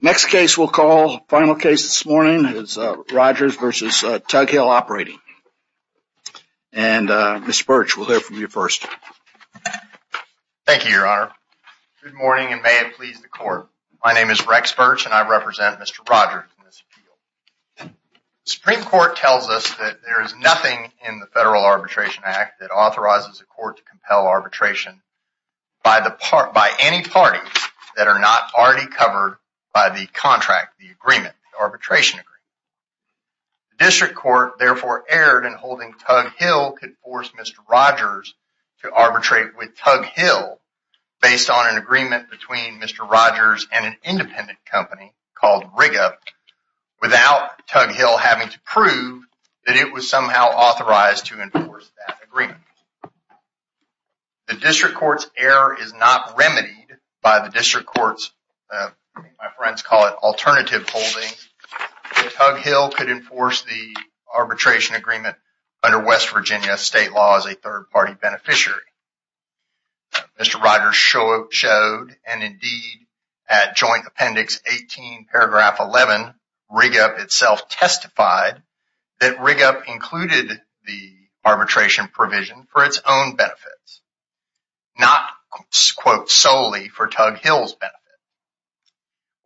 Next case we'll call final case this morning. It's Rogers versus Tug Hill Operating and Mr. Birch will hear from you first Thank you, your honor good morning and may it please the court. My name is Rex Birch and I represent mr. Rogers Supreme Court tells us that there is nothing in the Federal Arbitration Act that authorizes the court to compel arbitration By the part by any parties that are not already covered by the contract the agreement arbitration agree District Court therefore erred and holding Tug Hill could force. Mr. Rogers to arbitrate with Tug Hill Based on an agreement between mr. Rogers and an independent company called Riga Without Tug Hill having to prove that it was somehow authorized to enforce that agreement The district courts error is not remedied by the district courts My friends call it alternative holding Tug Hill could enforce the arbitration agreement under West Virginia state law as a third-party beneficiary Mr. Rogers showed and indeed at joint appendix 18 paragraph 11 Riga itself testified that Riga included the Benefits not Quote solely for Tug Hill's benefit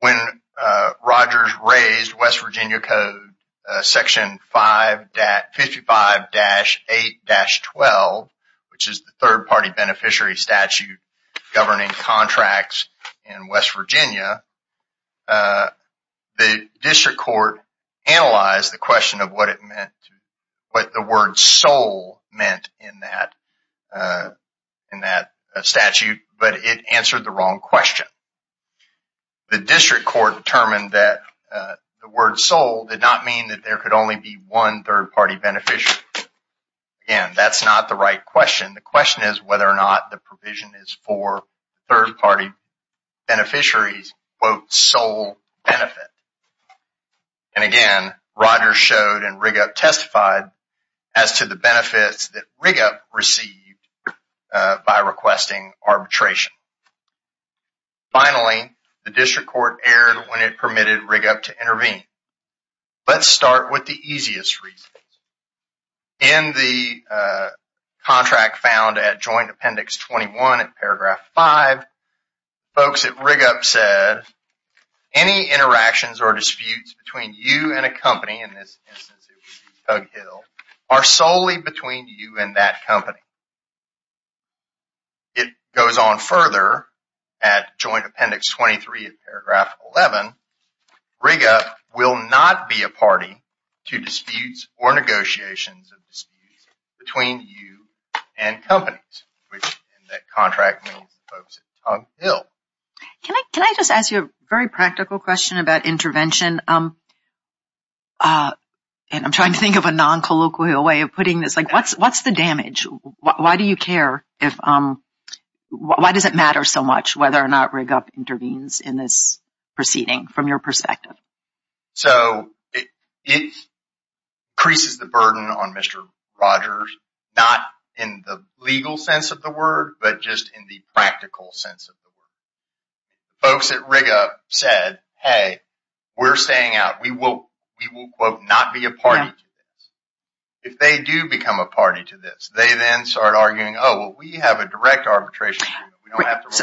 when Rogers raised West Virginia Code section 55-8-12 Which is the third-party beneficiary statute governing contracts in West Virginia? The district court Analyzed the question of what it meant to what the word soul meant in that In that statute, but it answered the wrong question the district court determined that The word soul did not mean that there could only be one third-party beneficiary And that's not the right question. The question is whether or not the provision is for third-party beneficiaries quote sole benefit And again Rogers showed and Riga testified as to the benefits that Riga received by requesting arbitration Finally the district court erred when it permitted Riga to intervene let's start with the easiest reason in the contract found at joint appendix 21 at paragraph 5 folks at Riga said Any interactions or disputes between you and a company in this Hill are solely between you and that company It goes on further at joint appendix 23 of paragraph 11 Riga will not be a party to disputes or negotiations of disputes between you and companies That contract Can I can I just ask you a very practical question about intervention And I'm trying to think of a non-colloquial way of putting this like what's what's the damage why do you care if Why does it matter so much whether or not Riga intervenes in this proceeding from your perspective? So it Increases the burden on mr. Rogers not in the legal sense of the word, but just in the practical sense of the word Folks at Riga said hey, we're staying out. We will we will quote not be a party If they do become a party to this they then start arguing. Oh, we have a direct arbitration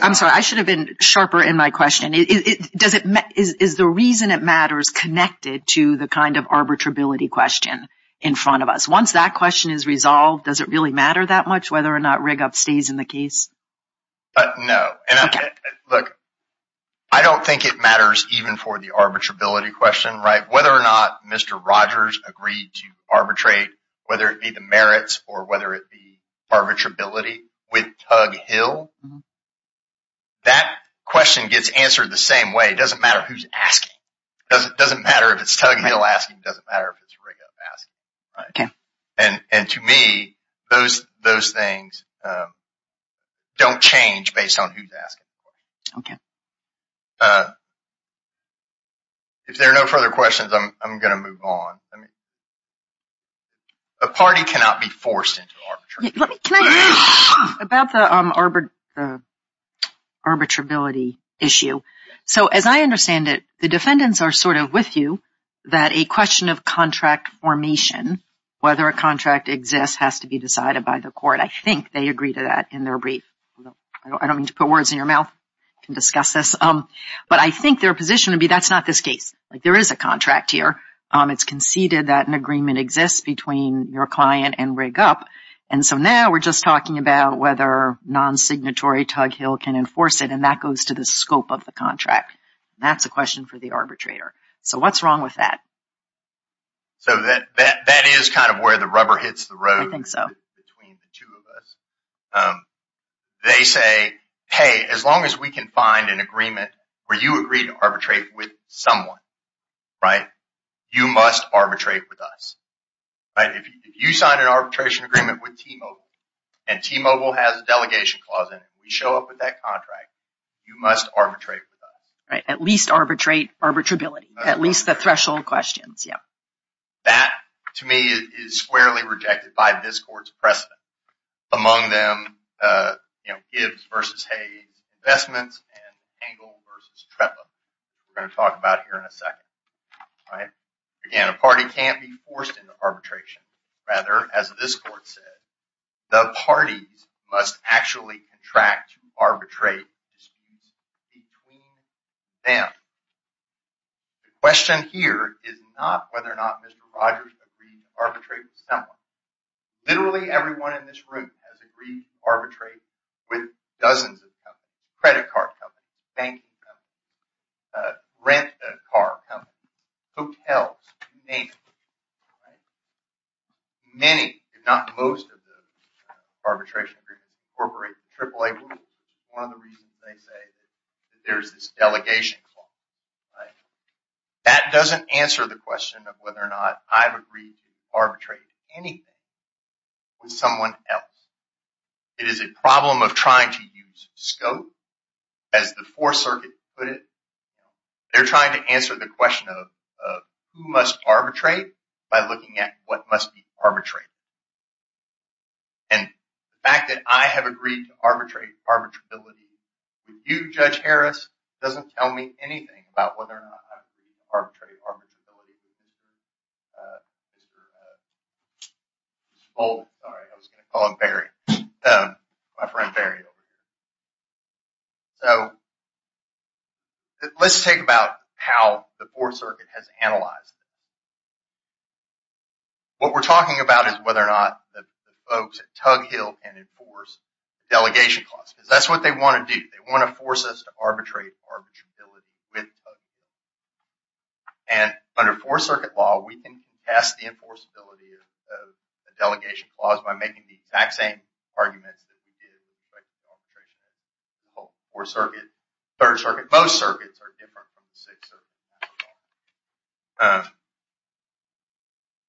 I'm sorry. I should have been sharper in my question Does it is the reason it matters connected to the kind of arbitrability question in front of us once that question is resolved Does it really matter that much whether or not rig up stays in the case? No Look, I don't think it matters even for the arbitrability question, right whether or not. Mr Rogers agreed to arbitrate whether it be the merits or whether it be arbitrability with tug Hill That question gets answered the same way it doesn't matter who's asking It doesn't doesn't matter if it's tugging it'll ask him doesn't matter if it's Riga Okay, and and to me those those things Don't change based on who's asking okay If there are no further questions, I'm gonna move on I mean a Party cannot be forced About the Arbitrability issue So as I understand it the defendants are sort of with you that a question of contract formation Whether a contract exists has to be decided by the court. I think they agree to that in their brief I don't mean to put words in your mouth can discuss this Um, but I think their position would be that's not this case like there is a contract here It's conceded that an agreement exists between your client and rig up and so now we're just talking about whether Non-signatory tug Hill can enforce it and that goes to the scope of the contract. That's a question for the arbitrator So what's wrong with that? So that that that is kind of where the rubber hits the road. I think so They say hey as long as we can find an agreement where you agree to arbitrate with someone Right, you must arbitrate with us right, if you sign an arbitration agreement with T-Mobile and T-Mobile has a delegation clause and we show up with that contract You must arbitrate with us right at least arbitrate arbitrability at least the threshold questions Yeah, that to me is squarely rejected by this court's precedent among them You know gives versus Hayes Investments We're going to talk about here in a second All right. Again a party can't be forced into arbitration rather as this court said The parties must actually contract to arbitrate between them The question here is not whether or not mr. Rogers agreed arbitrate someone Literally everyone in this room has agreed to arbitrate with dozens of credit card company banking Rent a car company hotels Many if not most of the arbitration agreement corporate triple-a There's this delegation Right that doesn't answer the question of whether or not I've agreed to arbitrate anything with someone else It is a problem of trying to use scope as the fourth circuit put it they're trying to answer the question of who must arbitrate by looking at what must be arbitrated and The fact that I have agreed to arbitrate arbitrability with you judge Harris doesn't tell me anything about whether or not I've agreed to arbitrate arbitrability with you Mr. Bowles, sorry I was going to call him Barry, my friend Barry over here So Let's take about how the fourth circuit has analyzed What we're talking about is whether or not the folks at Tug Hill and enforce Delegation clause because that's what they want to do. They want to force us to arbitrate arbitrability with and Under fourth circuit law, we can pass the enforceability of the delegation clause by making the exact same arguments Or circuit third circuit most circuits are different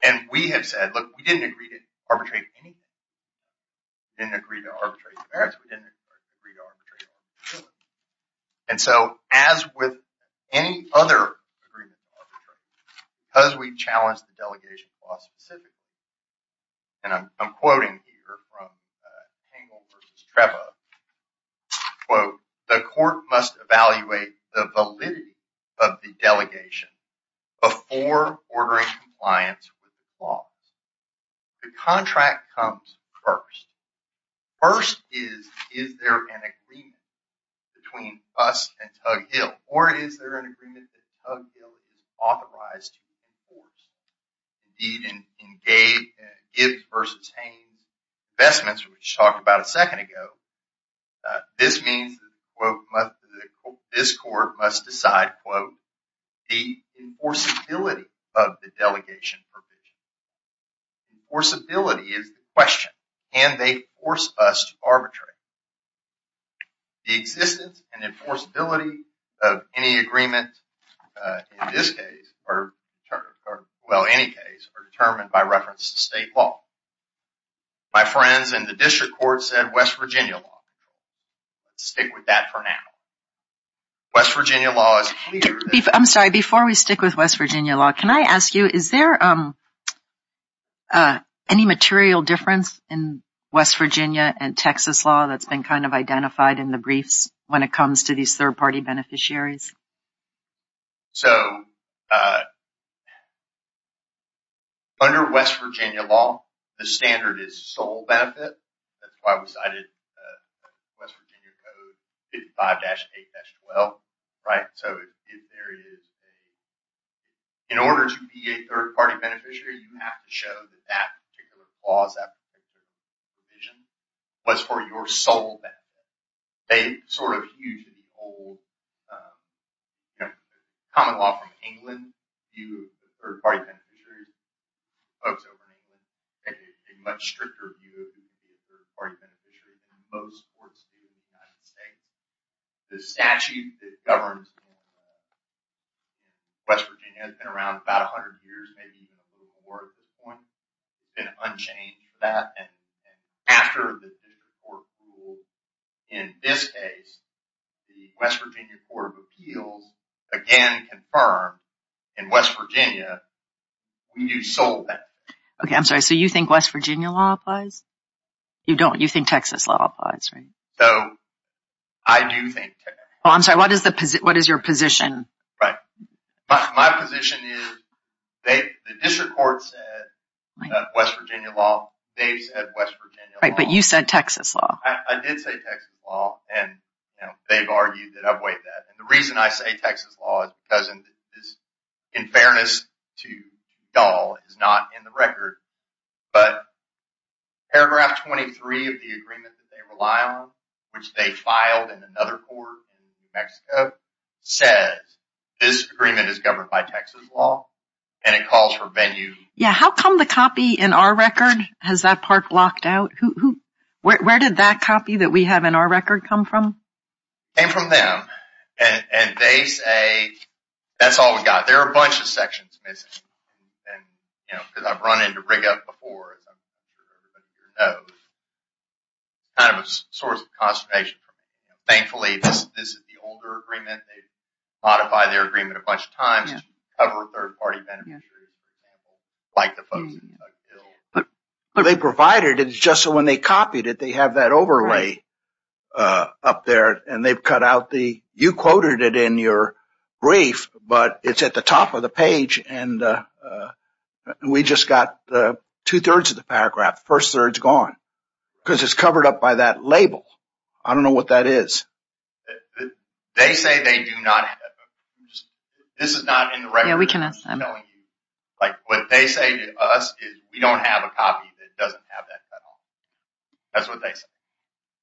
And We have said look we didn't agree to arbitrate anything Didn't agree to arbitrate And so as with any other Because we challenged the delegation clause specifically and I'm quoting here from Trevor Well, the court must evaluate the validity of the delegation before ordering compliance with the clause The contract comes first First is is there an agreement between us and Tug Hill or is there an agreement that Tug Hill is authorized to enforce? Indeed in Gibbs v. Haynes Investments which talked about a second ago this means This court must decide quote the enforceability of the delegation provision Enforceability is the question and they force us to arbitrate the existence and enforceability of any agreement in this case or Well, any case are determined by reference to state law My friends and the district court said West Virginia law Stick with that for now West Virginia law is clear. I'm sorry before we stick with West Virginia law. Can I ask you is there? Any material difference in West Virginia and Texas law that's been kind of identified in the briefs when it comes to these third-party beneficiaries so Under West Virginia law the standard is sole benefit. That's why we cited West Virginia code 55-8-12 Right. So if there is a In order to be a third-party beneficiary you have to show that that particular clause that Division was for your sole benefit. They sort of used to be old You know common law from England view of third-party beneficiary folks over in England a much stricter view of the third-party beneficiary than most courts do in the United States the statute that governs West Virginia has been around about a hundred years maybe even a little more at this point been unchanged for that and after the district court ruled in this case The West Virginia Court of Appeals again confirmed in West Virginia When you sold that, okay, I'm sorry. So you think West Virginia law applies? You don't you think Texas law applies, right? So I Do think oh, I'm sorry. What is the position? What is your position, right? my position is they West Virginia law Right, but you said Texas law I did say Texas law and they've argued that I've weighed that and the reason I say Texas law doesn't is in fairness to y'all is not in the record, but paragraph 23 of the agreement that they rely on which they filed in another court in New Mexico Says this agreement is governed by Texas law and it calls for venue Yeah, how come the copy in our record has that part blocked out who Where did that copy that we have in our record come from? came from them and they say That's all we got. There are a bunch of sections missing Because I've run into rig up before Kind of a source of consternation Thankfully, this is the older agreement. They modify their agreement a bunch of times But but they provided it's just so when they copied it they have that overlay up there and they've cut out the you quoted it in your brief, but it's at the top of the page and We just got two-thirds of the paragraph first thirds gone because it's covered up by that label. I don't know what that is They say they do not This is not in the record. We can ask them Like what they say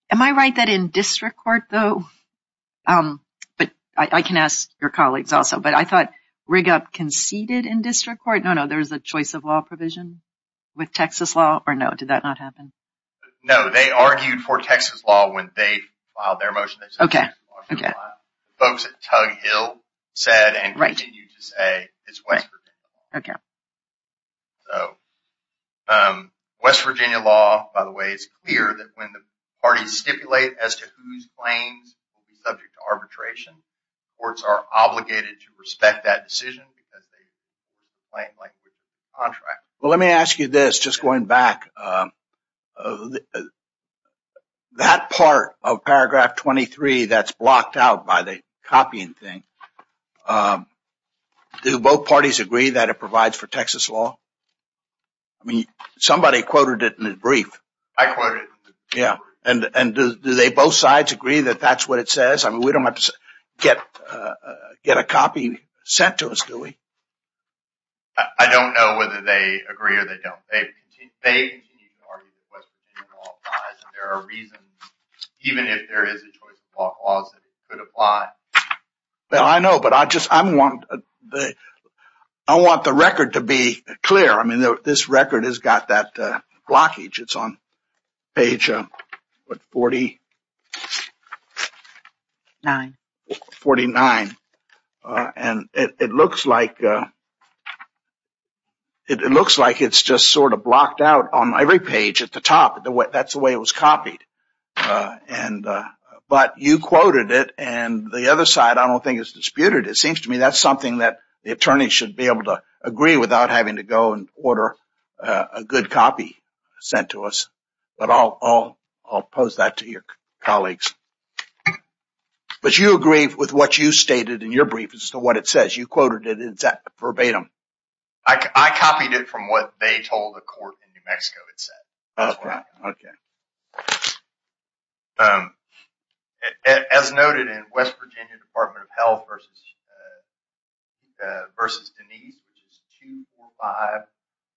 Am I right that in district court though But I can ask your colleagues also, but I thought rig up conceded in district court. No No, there's a choice of law provision with Texas law or no. Did that not happen? No, they argued for Texas law when they filed their motion. Okay Folks at Tug Hill said and right you to say it's West Okay so West Virginia law by the way, it's clear that when the parties stipulate as to whose claims subject to arbitration courts are obligated to respect that decision because Well, let me ask you this just going back Of That part of paragraph 23 that's blocked out by the copying thing Do both parties agree that it provides for Texas law I Mean somebody quoted it in his brief. I quoted. Yeah, and and do they both sides agree that that's what it says I mean, we don't have to get Get a copy sent to us. Do we I Argue Even if there is a choice of law Well, I know but I just I'm one that I want the record to be clear I mean this record has got that blockage. It's on page What 40? 9 49 and it looks like It It looks like it's just sort of blocked out on every page at the top the way that's the way it was copied and But you quoted it and the other side. I don't think it's disputed It seems to me that's something that the attorney should be able to agree without having to go and order a good copy Sent to us, but I'll all I'll pose that to your colleagues But you agree with what you stated in your brief as to what it says you quoted it exact verbatim I Copied it from what they told the court in New Mexico. It said, okay As noted in West Virginia Department of Health versus Versus Denise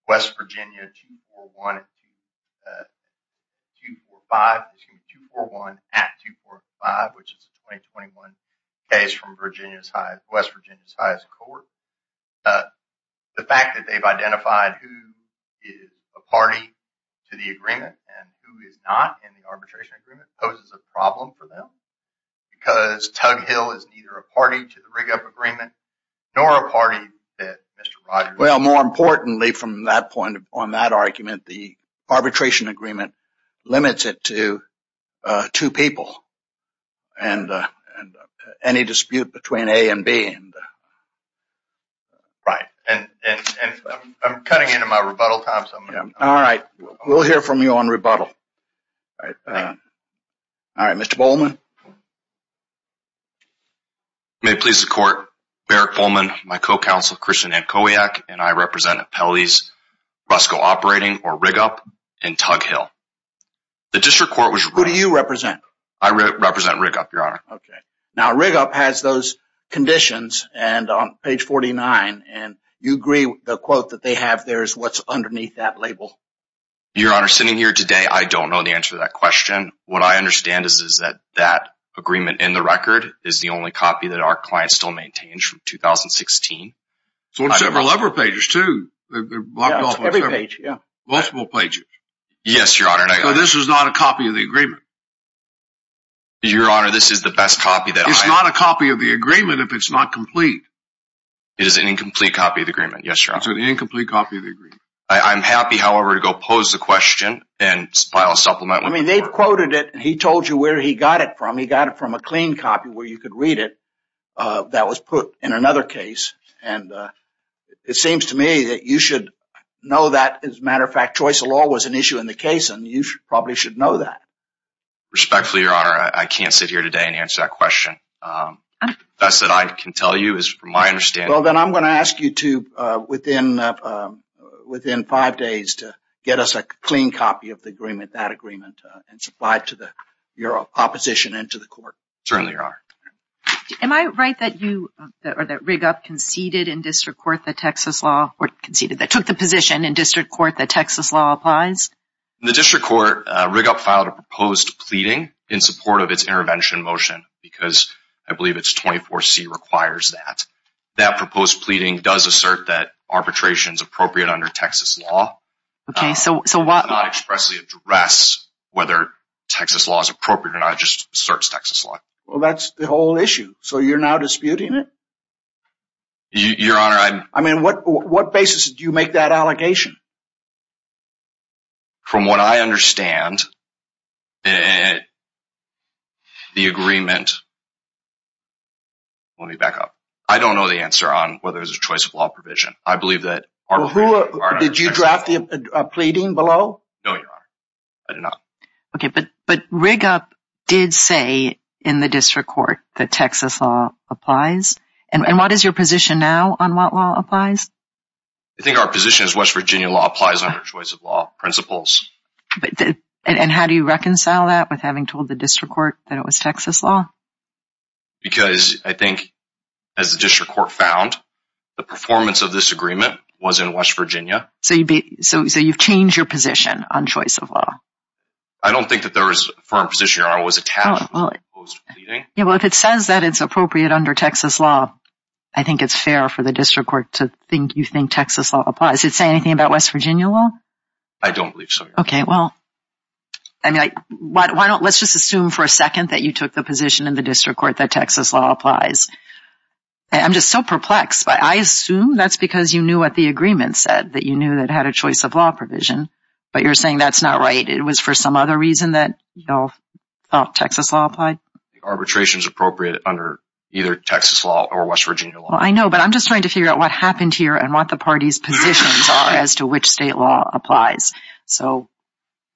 West Virginia To 5 to 4 1 at 2 4 5, which is 2021 case from Virginia's high West Virginia's highest court The fact that they've identified who is a party to the agreement and who is not in the arbitration agreement poses a problem for them because Tug Hill is neither a party to the rig up agreement nor a party that mr well more importantly from that point on that argument the arbitration agreement limits it to two people and Any dispute between a and B Right and I'm cutting into my rebuttal time. All right. We'll hear from you on rebuttal All right, mr. Bowman May Please the court Barrett Coleman my co-counsel Christian and Kodiak and I represented Pelly's Rusko operating or rig up in Tug Hill The district court was who do you represent? I represent rig up your honor Okay Now rig up has those conditions and on page 49 and you agree the quote that they have there is what's underneath that label Your honor sitting here today. I don't know the answer that question What I understand is is that that agreement in the record is the only copy that our clients still maintains from? 2016 so on several other pages to Every page. Yeah multiple pages. Yes, your honor. This is not a copy of the agreement Your honor. This is the best copy that it's not a copy of the agreement if it's not complete It is an incomplete copy of the agreement. Yes, sir. It's an incomplete copy of the agreement I'm happy. However to go pose the question and file a supplement I mean they've quoted it and he told you where he got it from he got it from a clean copy where you could read it that was put in another case and It seems to me that you should Know that as a matter of fact choice of law was an issue in the case and you should probably should know that Respectfully your honor. I can't sit here today and answer that question That's that I can tell you is from my understanding. Well, then I'm going to ask you to within Within five days to get us a clean copy of the agreement that agreement and supply it to the Opposition into the court. Certainly your honor Am I right that you or that rig up conceded in district court the Texas law or conceded that took the position in district court? the Texas law applies The district court rig up filed a proposed pleading in support of its intervention motion because I believe it's 24 C Requires that that proposed pleading does assert that arbitration is appropriate under Texas law Okay, so so what not expressly address whether Texas law is appropriate and I just starts Texas law Well, that's the whole issue. So you're now disputing it Your honor. I'm I mean what what basis do you make that allegation? From what I understand The agreement I Don't know the answer on whether there's a choice of law provision. I believe that Did you draft a pleading below? Okay, but but rig up did say in the district court the Texas law applies and and what is your position now on what law applies I Think our position is West Virginia law applies under choice of law principles And how do you reconcile that with having told the district court that it was Texas law? Because I think as the district court found the performance of this agreement was in West, Virginia So you'd be so you've changed your position on choice of law. I don't think that there is for a position. I was a town Yeah, well if it says that it's appropriate under Texas law I think it's fair for the district court to think you think Texas law applies. It's anything about West Virginia law I don't believe so. Okay. Well, I Texas law applies I'm just so perplexed But I assume that's because you knew what the agreement said that you knew that had a choice of law provision But you're saying that's not right. It was for some other reason that you know Texas law applied Arbitration is appropriate under either Texas law or West Virginia. Well, I know but I'm just trying to figure out what happened here And what the party's positions are as to which state law applies. So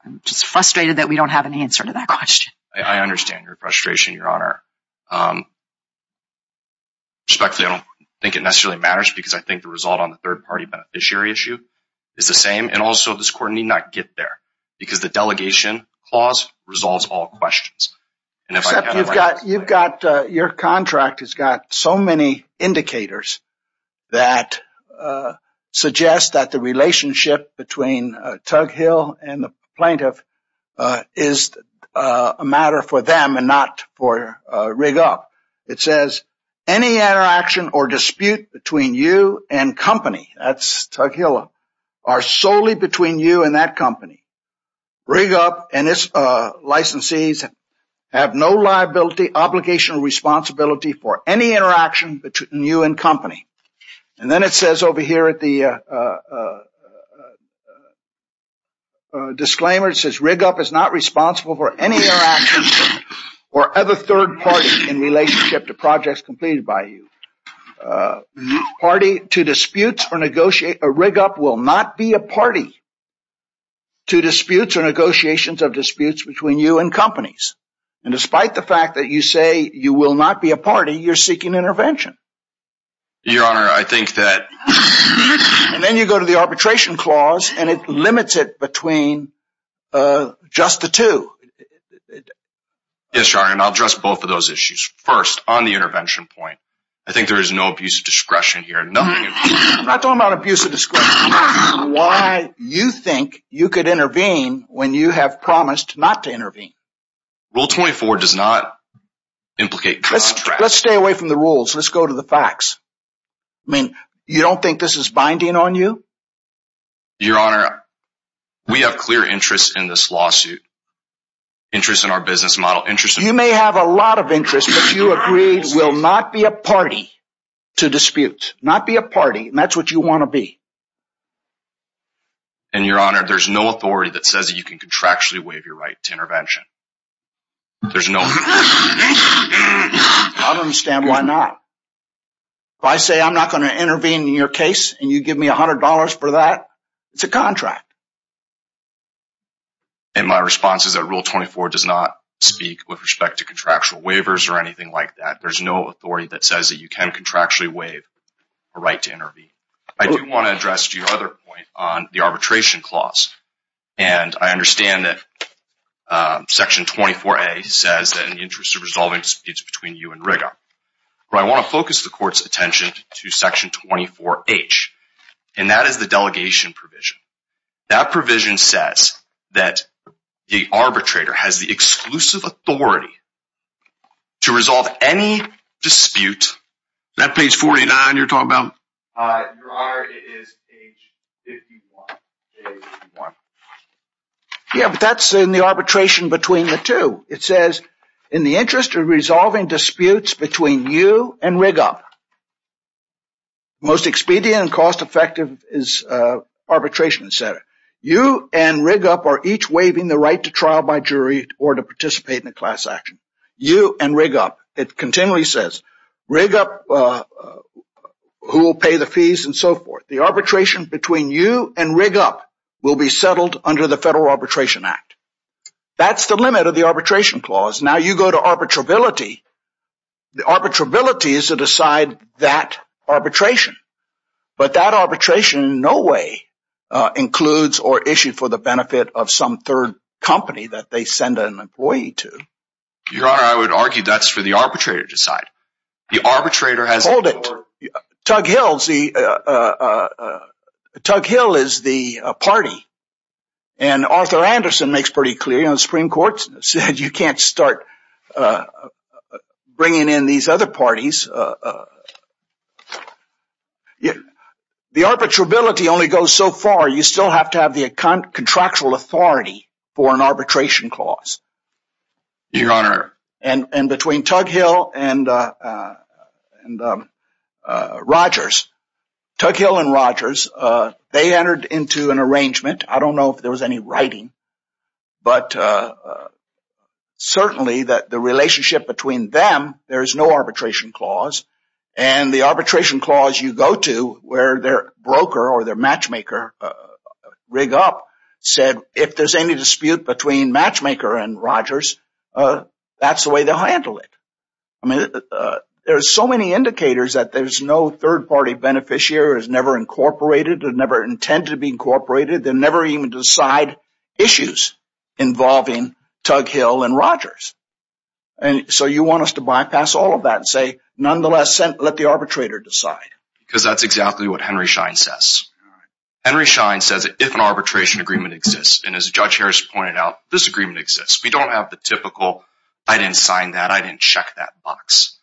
I'm just frustrated that we don't have an answer to that question. I understand your frustration your honor um Respectfully, I don't think it necessarily matters because I think the result on the third party beneficiary issue Is the same and also this court need not get there because the delegation clause resolves all questions And if you've got you've got your contract has got so many indicators that Suggests that the relationship between Tug Hill and the plaintiff is A matter for them and not for rig up It says any interaction or dispute between you and company That's Tug Hill are solely between you and that company rig up and it's licensees have no liability obligation or responsibility for any interaction between you and company and then it says over here at the Disclaimer it says rig up is not responsible for any interaction Or other third party in relationship to projects completed by you Party to disputes or negotiate a rig up will not be a party to disputes or negotiations of disputes between you and companies and Despite the fact that you say you will not be a party you're seeking intervention your honor, I think that And then you go to the arbitration clause and it limits it between Just the two Yes, sorry, and I'll dress both of those issues first on the intervention point. I think there is no abuse of discretion here No, I'm not talking about abuse of discretion Why you think you could intervene when you have promised not to intervene rule 24 does not? Implicate let's stay away from the rules. Let's go to the facts. I Think this is binding on you your honor We have clear interest in this lawsuit Interest in our business model interest you may have a lot of interest But you agreed will not be a party to dispute not be a party and that's what you want to be and Your honor, there's no authority that says you can contractually waive your right to intervention There's no I Understand why not? If I say I'm not going to intervene in your case and you give me a hundred dollars for that. It's a contract And my response is that rule 24 does not speak with respect to contractual waivers or anything like that There's no authority that says that you can contractually waive a right to intervene I don't want to address to your other point on the arbitration clause and I understand that Section 24 a says that in the interest of resolving speeds between you and rigor But I want to focus the court's attention to section 24 H and that is the delegation provision That provision says that the arbitrator has the exclusive authority to resolve any Dispute that page 49 you're talking about Is Yeah, but that's in the arbitration between the two it says in the interest of resolving disputes between you and rig up Most expedient and cost-effective is Arbitration center you and rig up are each waiving the right to trial by jury or to participate in a class action You and rig up it continually says rig up Who will pay the fees and so forth the arbitration between you and rig up will be settled under the Federal Arbitration Act That's the limit of the arbitration clause. Now you go to arbitrability The arbitrability is to decide that arbitration But that arbitration in no way Includes or issued for the benefit of some third company that they send an employee to Your honor I would argue that's for the arbitrator to side the arbitrator has hold it Tug Hills the Tug Hill is the party and Arthur Anderson makes pretty clear on the Supreme Court said you can't start Bringing in these other parties Yeah, the arbitrability only goes so far you still have to have the account contractual authority for an arbitration clause Your honor and and between Tug Hill and Rogers Tug Hill and Rogers they entered into an arrangement. I don't know if there was any writing but Certainly that the relationship between them There is no arbitration clause and the arbitration clause you go to where their broker or their matchmaker Rig up said if there's any dispute between matchmaker and Rogers That's the way they'll handle it. I mean There's so many indicators that there's no third party beneficiary is never incorporated and never intended to be incorporated They're never even decide issues involving Tug Hill and Rogers and So you want us to bypass all of that and say nonetheless sent let the arbitrator decide because that's exactly what Henry Schein says Henry Schein says if an arbitration agreement exists and as a judge Harris pointed out this agreement exists We don't have the typical I didn't sign that I didn't check that box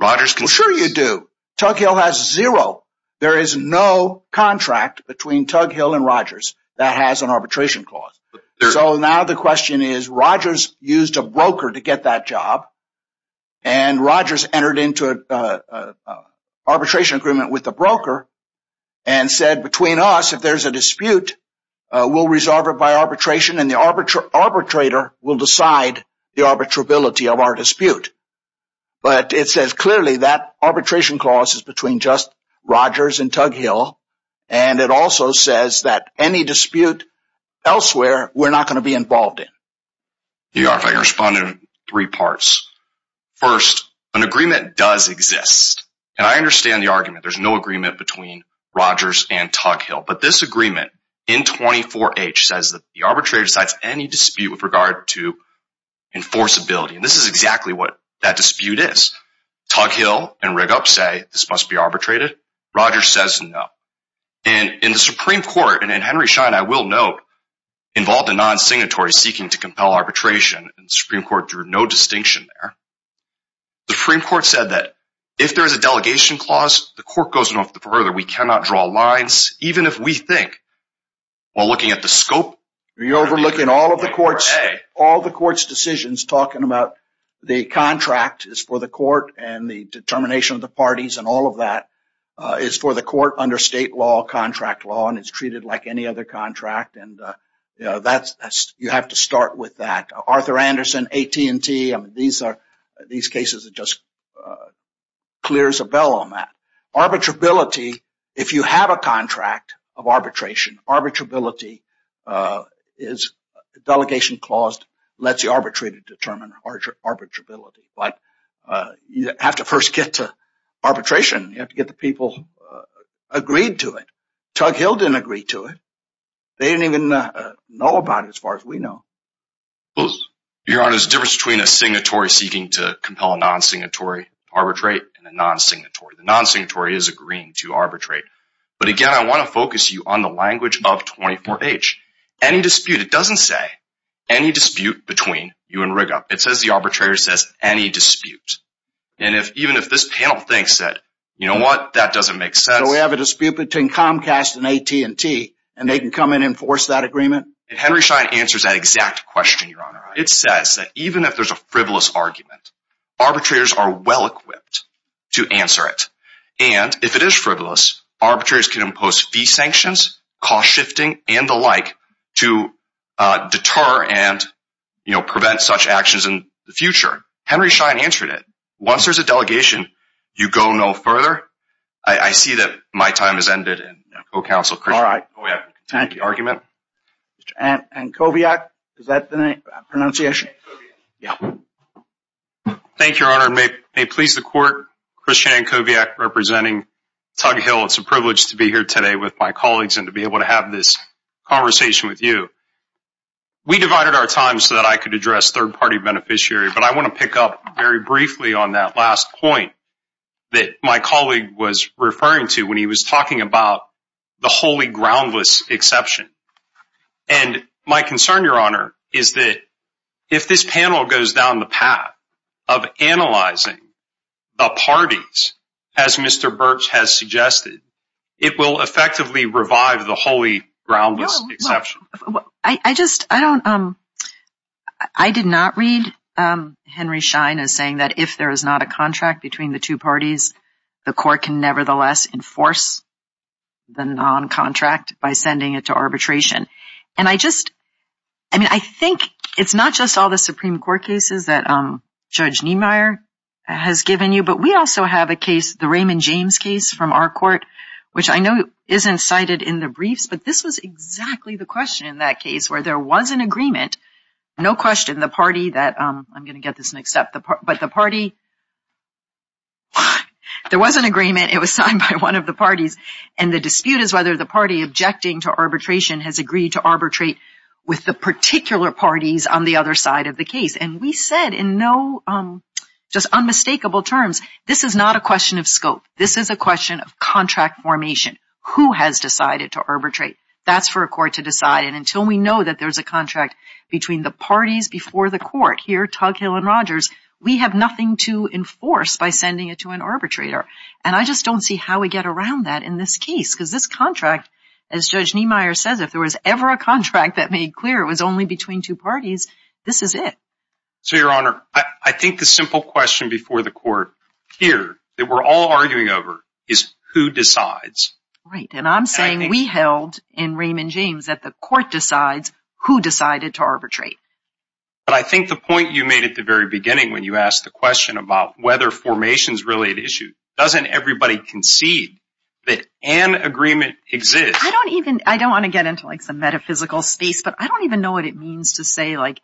Rogers can sure you do Tuck Hill has zero There is no contract between Tug Hill and Rogers that has an arbitration clause so now the question is Rogers used a broker to get that job and Rogers entered into a arbitration agreement with the broker and Between us if there's a dispute We'll resolve it by arbitration and the arbiter arbitrator will decide the arbitrability of our dispute But it says clearly that arbitration clause is between just Rogers and Tug Hill and it also says that any dispute Elsewhere, we're not going to be involved in You are if I can respond in three parts First an agreement does exist and I understand the argument there's no agreement between Rogers and Tug Hill, but this agreement in 24 H says that the arbitrator decides any dispute with regard to Enforceability and this is exactly what that dispute is Tug Hill and rig up say this must be arbitrated Rogers says no and in the Supreme Court and in Henry Schein, I will note Involved a non-signatory seeking to compel arbitration and Supreme Court drew no distinction there The Supreme Court said that if there is a delegation clause the court goes enough the further we cannot draw lines even if we think While looking at the scope you're overlooking all of the courts all the courts decisions talking about The contract is for the court and the determination of the parties and all of that is for the court under state law contract law and it's treated like any other contract and You know, that's you have to start with that Arthur Anderson AT&T. I mean, these are these cases that just clears a bell on that arbitrability if you have a contract of arbitration arbitrability is delegation clause lets you arbitrate it determine our arbitrability, but You have to first get to arbitration. You have to get the people Agreed to it. Chuck Hill didn't agree to it. They didn't even know about it as far as we know Well, your honor's difference between a signatory seeking to compel a non-signatory Arbitrate and a non-signatory the non-signatory is agreeing to arbitrate But again, I want to focus you on the language of 24-h any dispute It doesn't say any dispute between you and rig up It says the arbitrator says any dispute and if even if this panel thinks that you know what that doesn't make sense We have a dispute between Comcast and AT&T and they can come in and force that agreement Henry Schein answers that exact question your honor. It says that even if there's a frivolous argument Arbitrators are well equipped to answer it. And if it is frivolous arbitrators can impose fee sanctions cost shifting and the like to Deter and you know prevent such actions in the future Henry Schein answered it once there's a delegation You go no further. I See that my time has ended and co-counsel cry. Oh, yeah. Thank you argument And and Kovac is that the pronunciation? Yeah Thank your honor may may please the court Christian Kovac representing tug hill It's a privilege to be here today with my colleagues and to be able to have this Conversation with you We divided our time so that I could address third-party beneficiary, but I want to pick up very briefly on that last point that my colleague was referring to when he was talking about the holy groundless exception and my concern your honor is that if this panel goes down the path of analyzing the Suggested it will effectively revive the holy groundless I just I don't um, I Did not read Henry Schein is saying that if there is not a contract between the two parties the court can nevertheless enforce the non-contract by sending it to arbitration and I just I mean I think it's not just all the Supreme Court cases that um, Judge Niemeyer Has given you but we also have a case the Raymond James case from our court Which I know isn't cited in the briefs, but this was exactly the question in that case where there was an agreement No question the party that I'm gonna get this next up the part, but the party There was an agreement it was signed by one of the parties and the dispute is whether the party objecting to Arbitration has agreed to arbitrate with the particular parties on the other side of the case and we said in no Just unmistakable terms. This is not a question of scope This is a question of contract formation who has decided to arbitrate That's for a court to decide and until we know that there's a contract between the parties before the court here tug hill and Rogers We have nothing to enforce by sending it to an arbitrator and I just don't see how we get around that in this case because this contract as Judge Niemeyer says if there was ever a contract that made clear it was only between two parties. This is it So your honor, I think the simple question before the court here that we're all arguing over is who decides Right, and I'm saying we held in Raymond James that the court decides who decided to arbitrate But I think the point you made at the very beginning when you asked the question about whether formations really an issue Doesn't everybody concede that an agreement exists? I don't even I don't want to get into like some metaphysical space, but I don't even know what it means to say like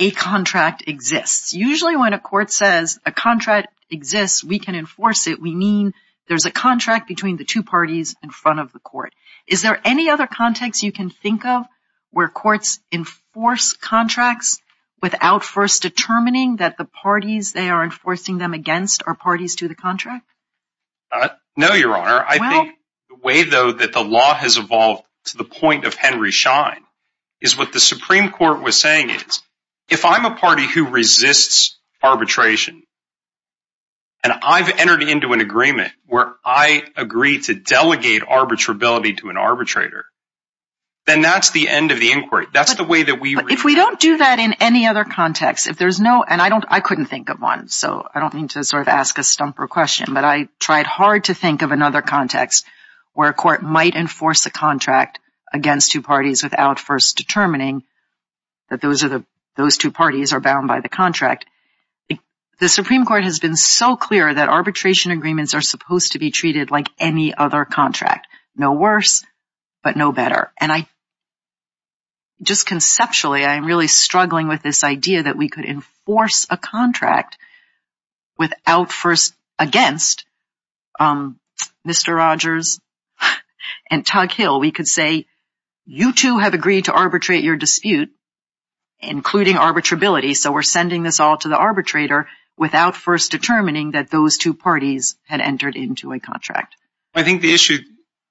a Contract exists. Usually when a court says a contract exists we can enforce it We mean there's a contract between the two parties in front of the court Is there any other context you can think of where courts enforce contracts? Without first determining that the parties they are enforcing them against our parties to the contract No, your honor I think the way though that the law has evolved to the point of Henry Schein is what the Supreme Court was saying is if I'm a party who resists arbitration and I've entered into an agreement where I agree to delegate arbitrability to an arbitrator Then that's the end of the inquiry That's the way that we if we don't do that in any other context if there's no and I don't I couldn't think of one So I don't mean to sort of ask a stumper question But I tried hard to think of another context where a court might enforce a contract against two parties without first determining That those are the those two parties are bound by the contract The Supreme Court has been so clear that arbitration agreements are supposed to be treated like any other contract no worse but no better and I Just conceptually. I'm really struggling with this idea that we could enforce a contract Without first against Mr. Rogers and Tuck Hill we could say you two have agreed to arbitrate your dispute Including arbitrability, so we're sending this all to the arbitrator without first determining that those two parties had entered into a contract I think the issue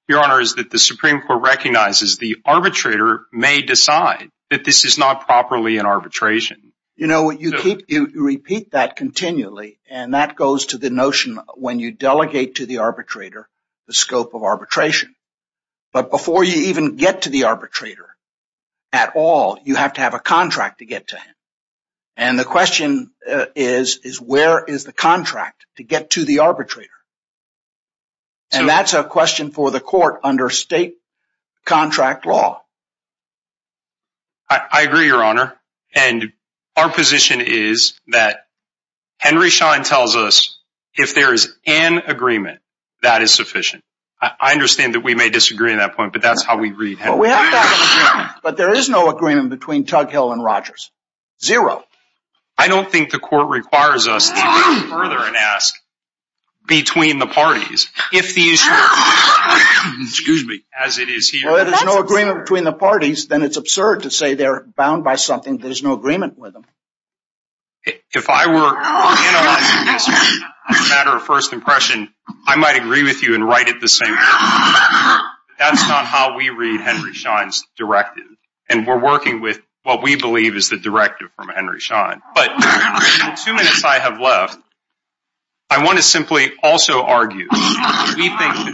your honor is that the Supreme Court recognizes the arbitrator may decide that this is not properly an arbitration You know what you keep you repeat that continually and that goes to the notion when you delegate to the arbitrator the scope of arbitration but before you even get to the arbitrator at all you have to have a contract to get to him and The question is is where is the contract to get to the arbitrator? And that's a question for the court under state contract law I Honor and our position is that Henry Schein tells us if there is an agreement that is sufficient I understand that we may disagree in that point, but that's how we read But there is no agreement between Tuck Hill and Rogers zero. I don't think the court requires us Between the parties if these Excuse me as it is here. There's no agreement between the parties, then it's absurd to say they're bound by something. There's no agreement with them if I were A matter of first impression I might agree with you and write it the same That's not how we read Henry Schein's directive, and we're working with what we believe is the directive from Henry Schein, but two minutes I have left I Want to simply also argue Alternative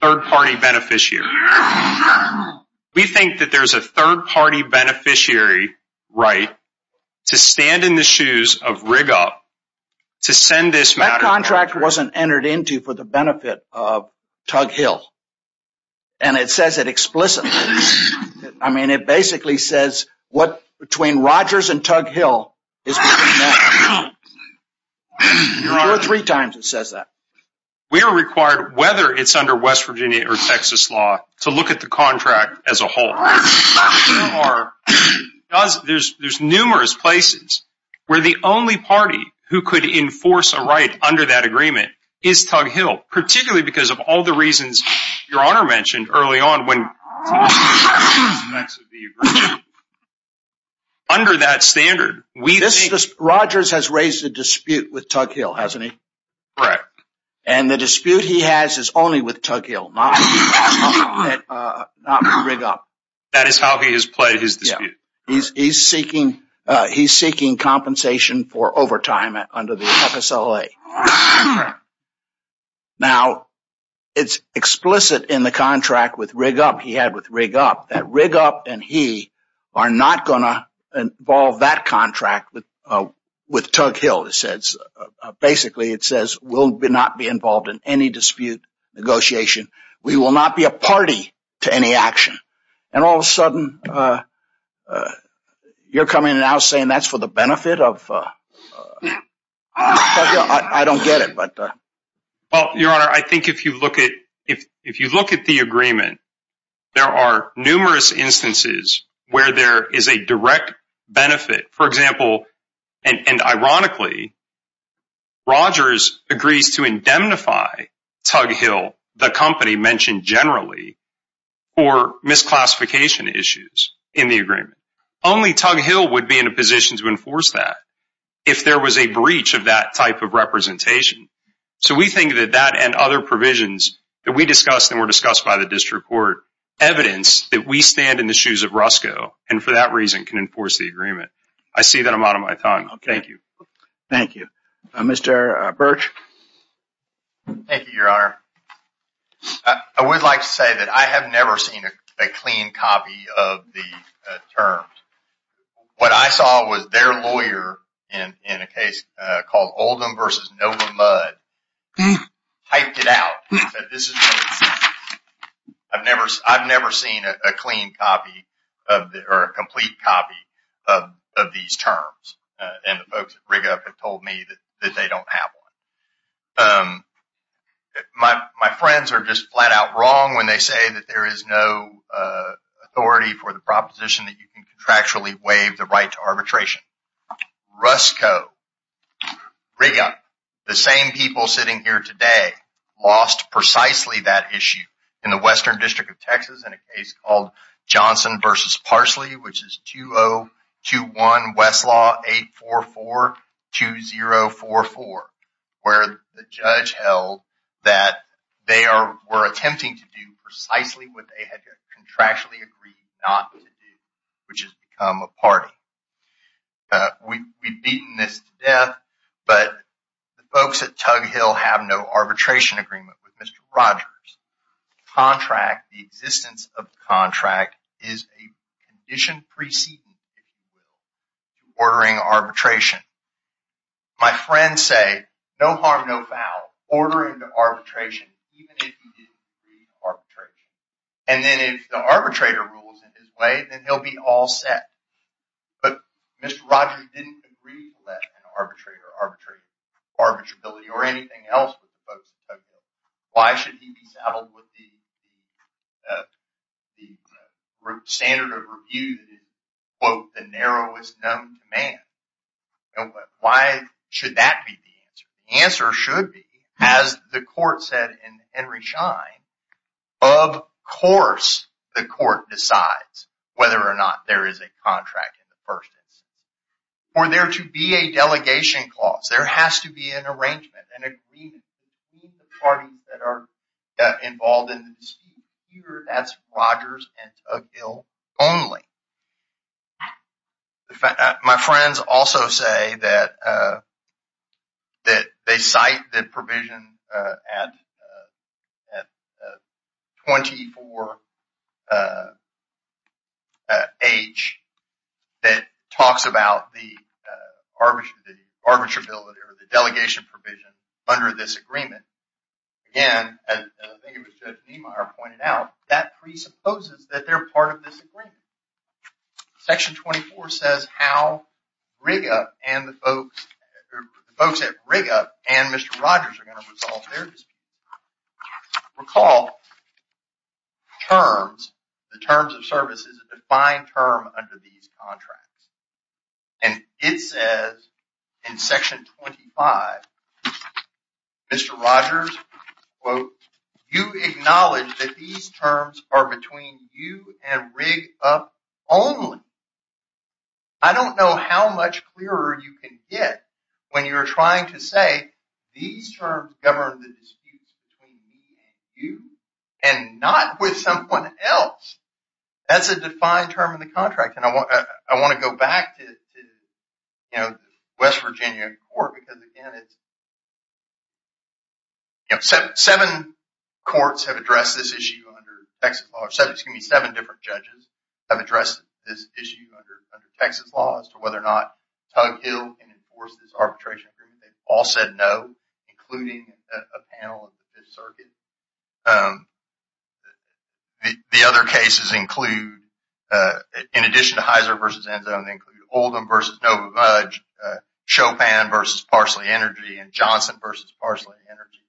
Third party beneficiary We think that there's a third party beneficiary Right to stand in the shoes of rig up to send this matter contract wasn't entered into for the benefit of Tug Hill and It says it explicitly. I mean it basically says what between Rogers and Tug Hill is I Three times it says that we are required whether it's under West Virginia or Texas law to look at the contract as a whole There's there's numerous places Where the only party who could enforce a right under that agreement is Tug Hill particularly because of all the reasons your honor mentioned early on when Next Under that standard we this Rogers has raised a dispute with Tug Hill hasn't he correct and the dispute He has is only with Tug Hill That is how he has played his yeah, he's seeking he's seeking compensation for overtime under the FSLA Now It's explicit in the contract with rig up he had with rig up that rig up and he are not gonna involve that contract with With Tug Hill it says Basically, it says will be not be involved in any dispute Negotiation we will not be a party to any action and all of a sudden You're coming now saying that's for the benefit of Get it, but Well, your honor. I think if you look at if if you look at the agreement There are numerous instances where there is a direct benefit. For example, and ironically Rogers agrees to indemnify Tug Hill the company mentioned generally or Misclassification issues in the agreement only Tug Hill would be in a position to enforce that if There was a breach of that type of representation So we think that that and other provisions that we discussed and were discussed by the district court Evidence that we stand in the shoes of Roscoe and for that reason can enforce the agreement. I see that I'm out of my time Okay. Thank you. Thank you. Mr. Birch Thank you, your honor. I Would like to say that I have never seen a clean copy of the terms What I saw was their lawyer in in a case called Oldham vs. Nova mud Hyped it out I've never I've never seen a clean copy of the or a complete copy of These terms and the folks rig up and told me that they don't have one My my friends are just flat-out wrong when they say that there is no Authority for the proposition that you can contractually waive the right to arbitration Roscoe Riga the same people sitting here today Lost precisely that issue in the Western District of Texas in a case called Johnson versus Parsley, which is 2021 Westlaw 8 4 4 2 0 4 4 Where the judge held that they are were attempting to do precisely what they had contractually agreed not Which has become a party We've beaten this death, but the folks at Tug Hill have no arbitration agreement with mr. Rogers contract the existence of the contract is a condition preceding Ordering arbitration My friends say no harm no foul ordering the arbitration Arbitration and then if the arbitrator rules in his way, then he'll be all set But mr. Rogers didn't agree that an arbitrator arbitrate arbitrability or anything else with why should he be saddled with the The standard of review Both the narrowest known to man Why should that be the answer should be as the court said in Henry Schein of? Course the court decides whether or not there is a contract in the first Or there to be a delegation clause. There has to be an arrangement and Parties that are involved in Rogers and a bill only My friends also say that that they cite that provision at 24 H that talks about the Arbitration the arbitrability or the delegation provision under this agreement Again Pointed out that presupposes that they're part of this agreement section 24 says how Riga and the folks Folks at Riga and mr. Rogers are going to resolve their Recall Terms the terms of service is a defined term under these contracts and It says in section 25 Mr. Rogers Well, you acknowledge that these terms are between you and rigged up only I Don't know how much clearer you can get when you're trying to say these terms govern the disputes You and not with someone else That's a defined term in the contract and I want I want to go back to You know, West Virginia Seven Courts have addressed this issue under Texas law So it's going to be seven different judges have addressed this issue under Texas law as to whether or not Tug Hill and enforce this arbitration agreement. They've all said no including a panel of the Fifth Circuit The other cases include In addition to Heizer versus end zone they include Oldham versus Nova Mudge Chopin versus parsley energy and Johnson versus parsley energy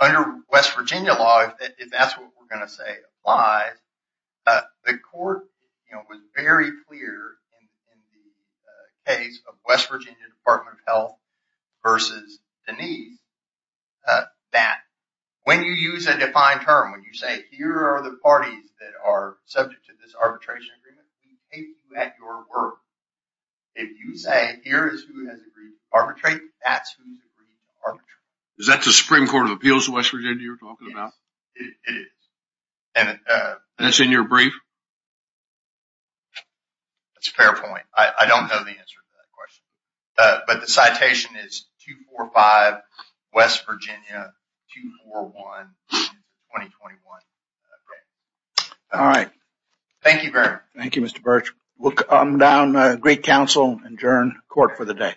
Under West Virginia law if that's what we're going to say why the court Case of West Virginia Department of Health versus Denise That when you use a defined term when you say here are the parties that are subject to this arbitration at your work If you say here is who has agreed arbitrate, that's who Is that the Supreme Court of Appeals of West Virginia? You're talking about it is and it's in your brief It's a fair point, I don't know the answer to that question, but the citation is two four five West Virginia All right, thank you very thank you mr. Birch look I'm down great counsel and jurn court for the day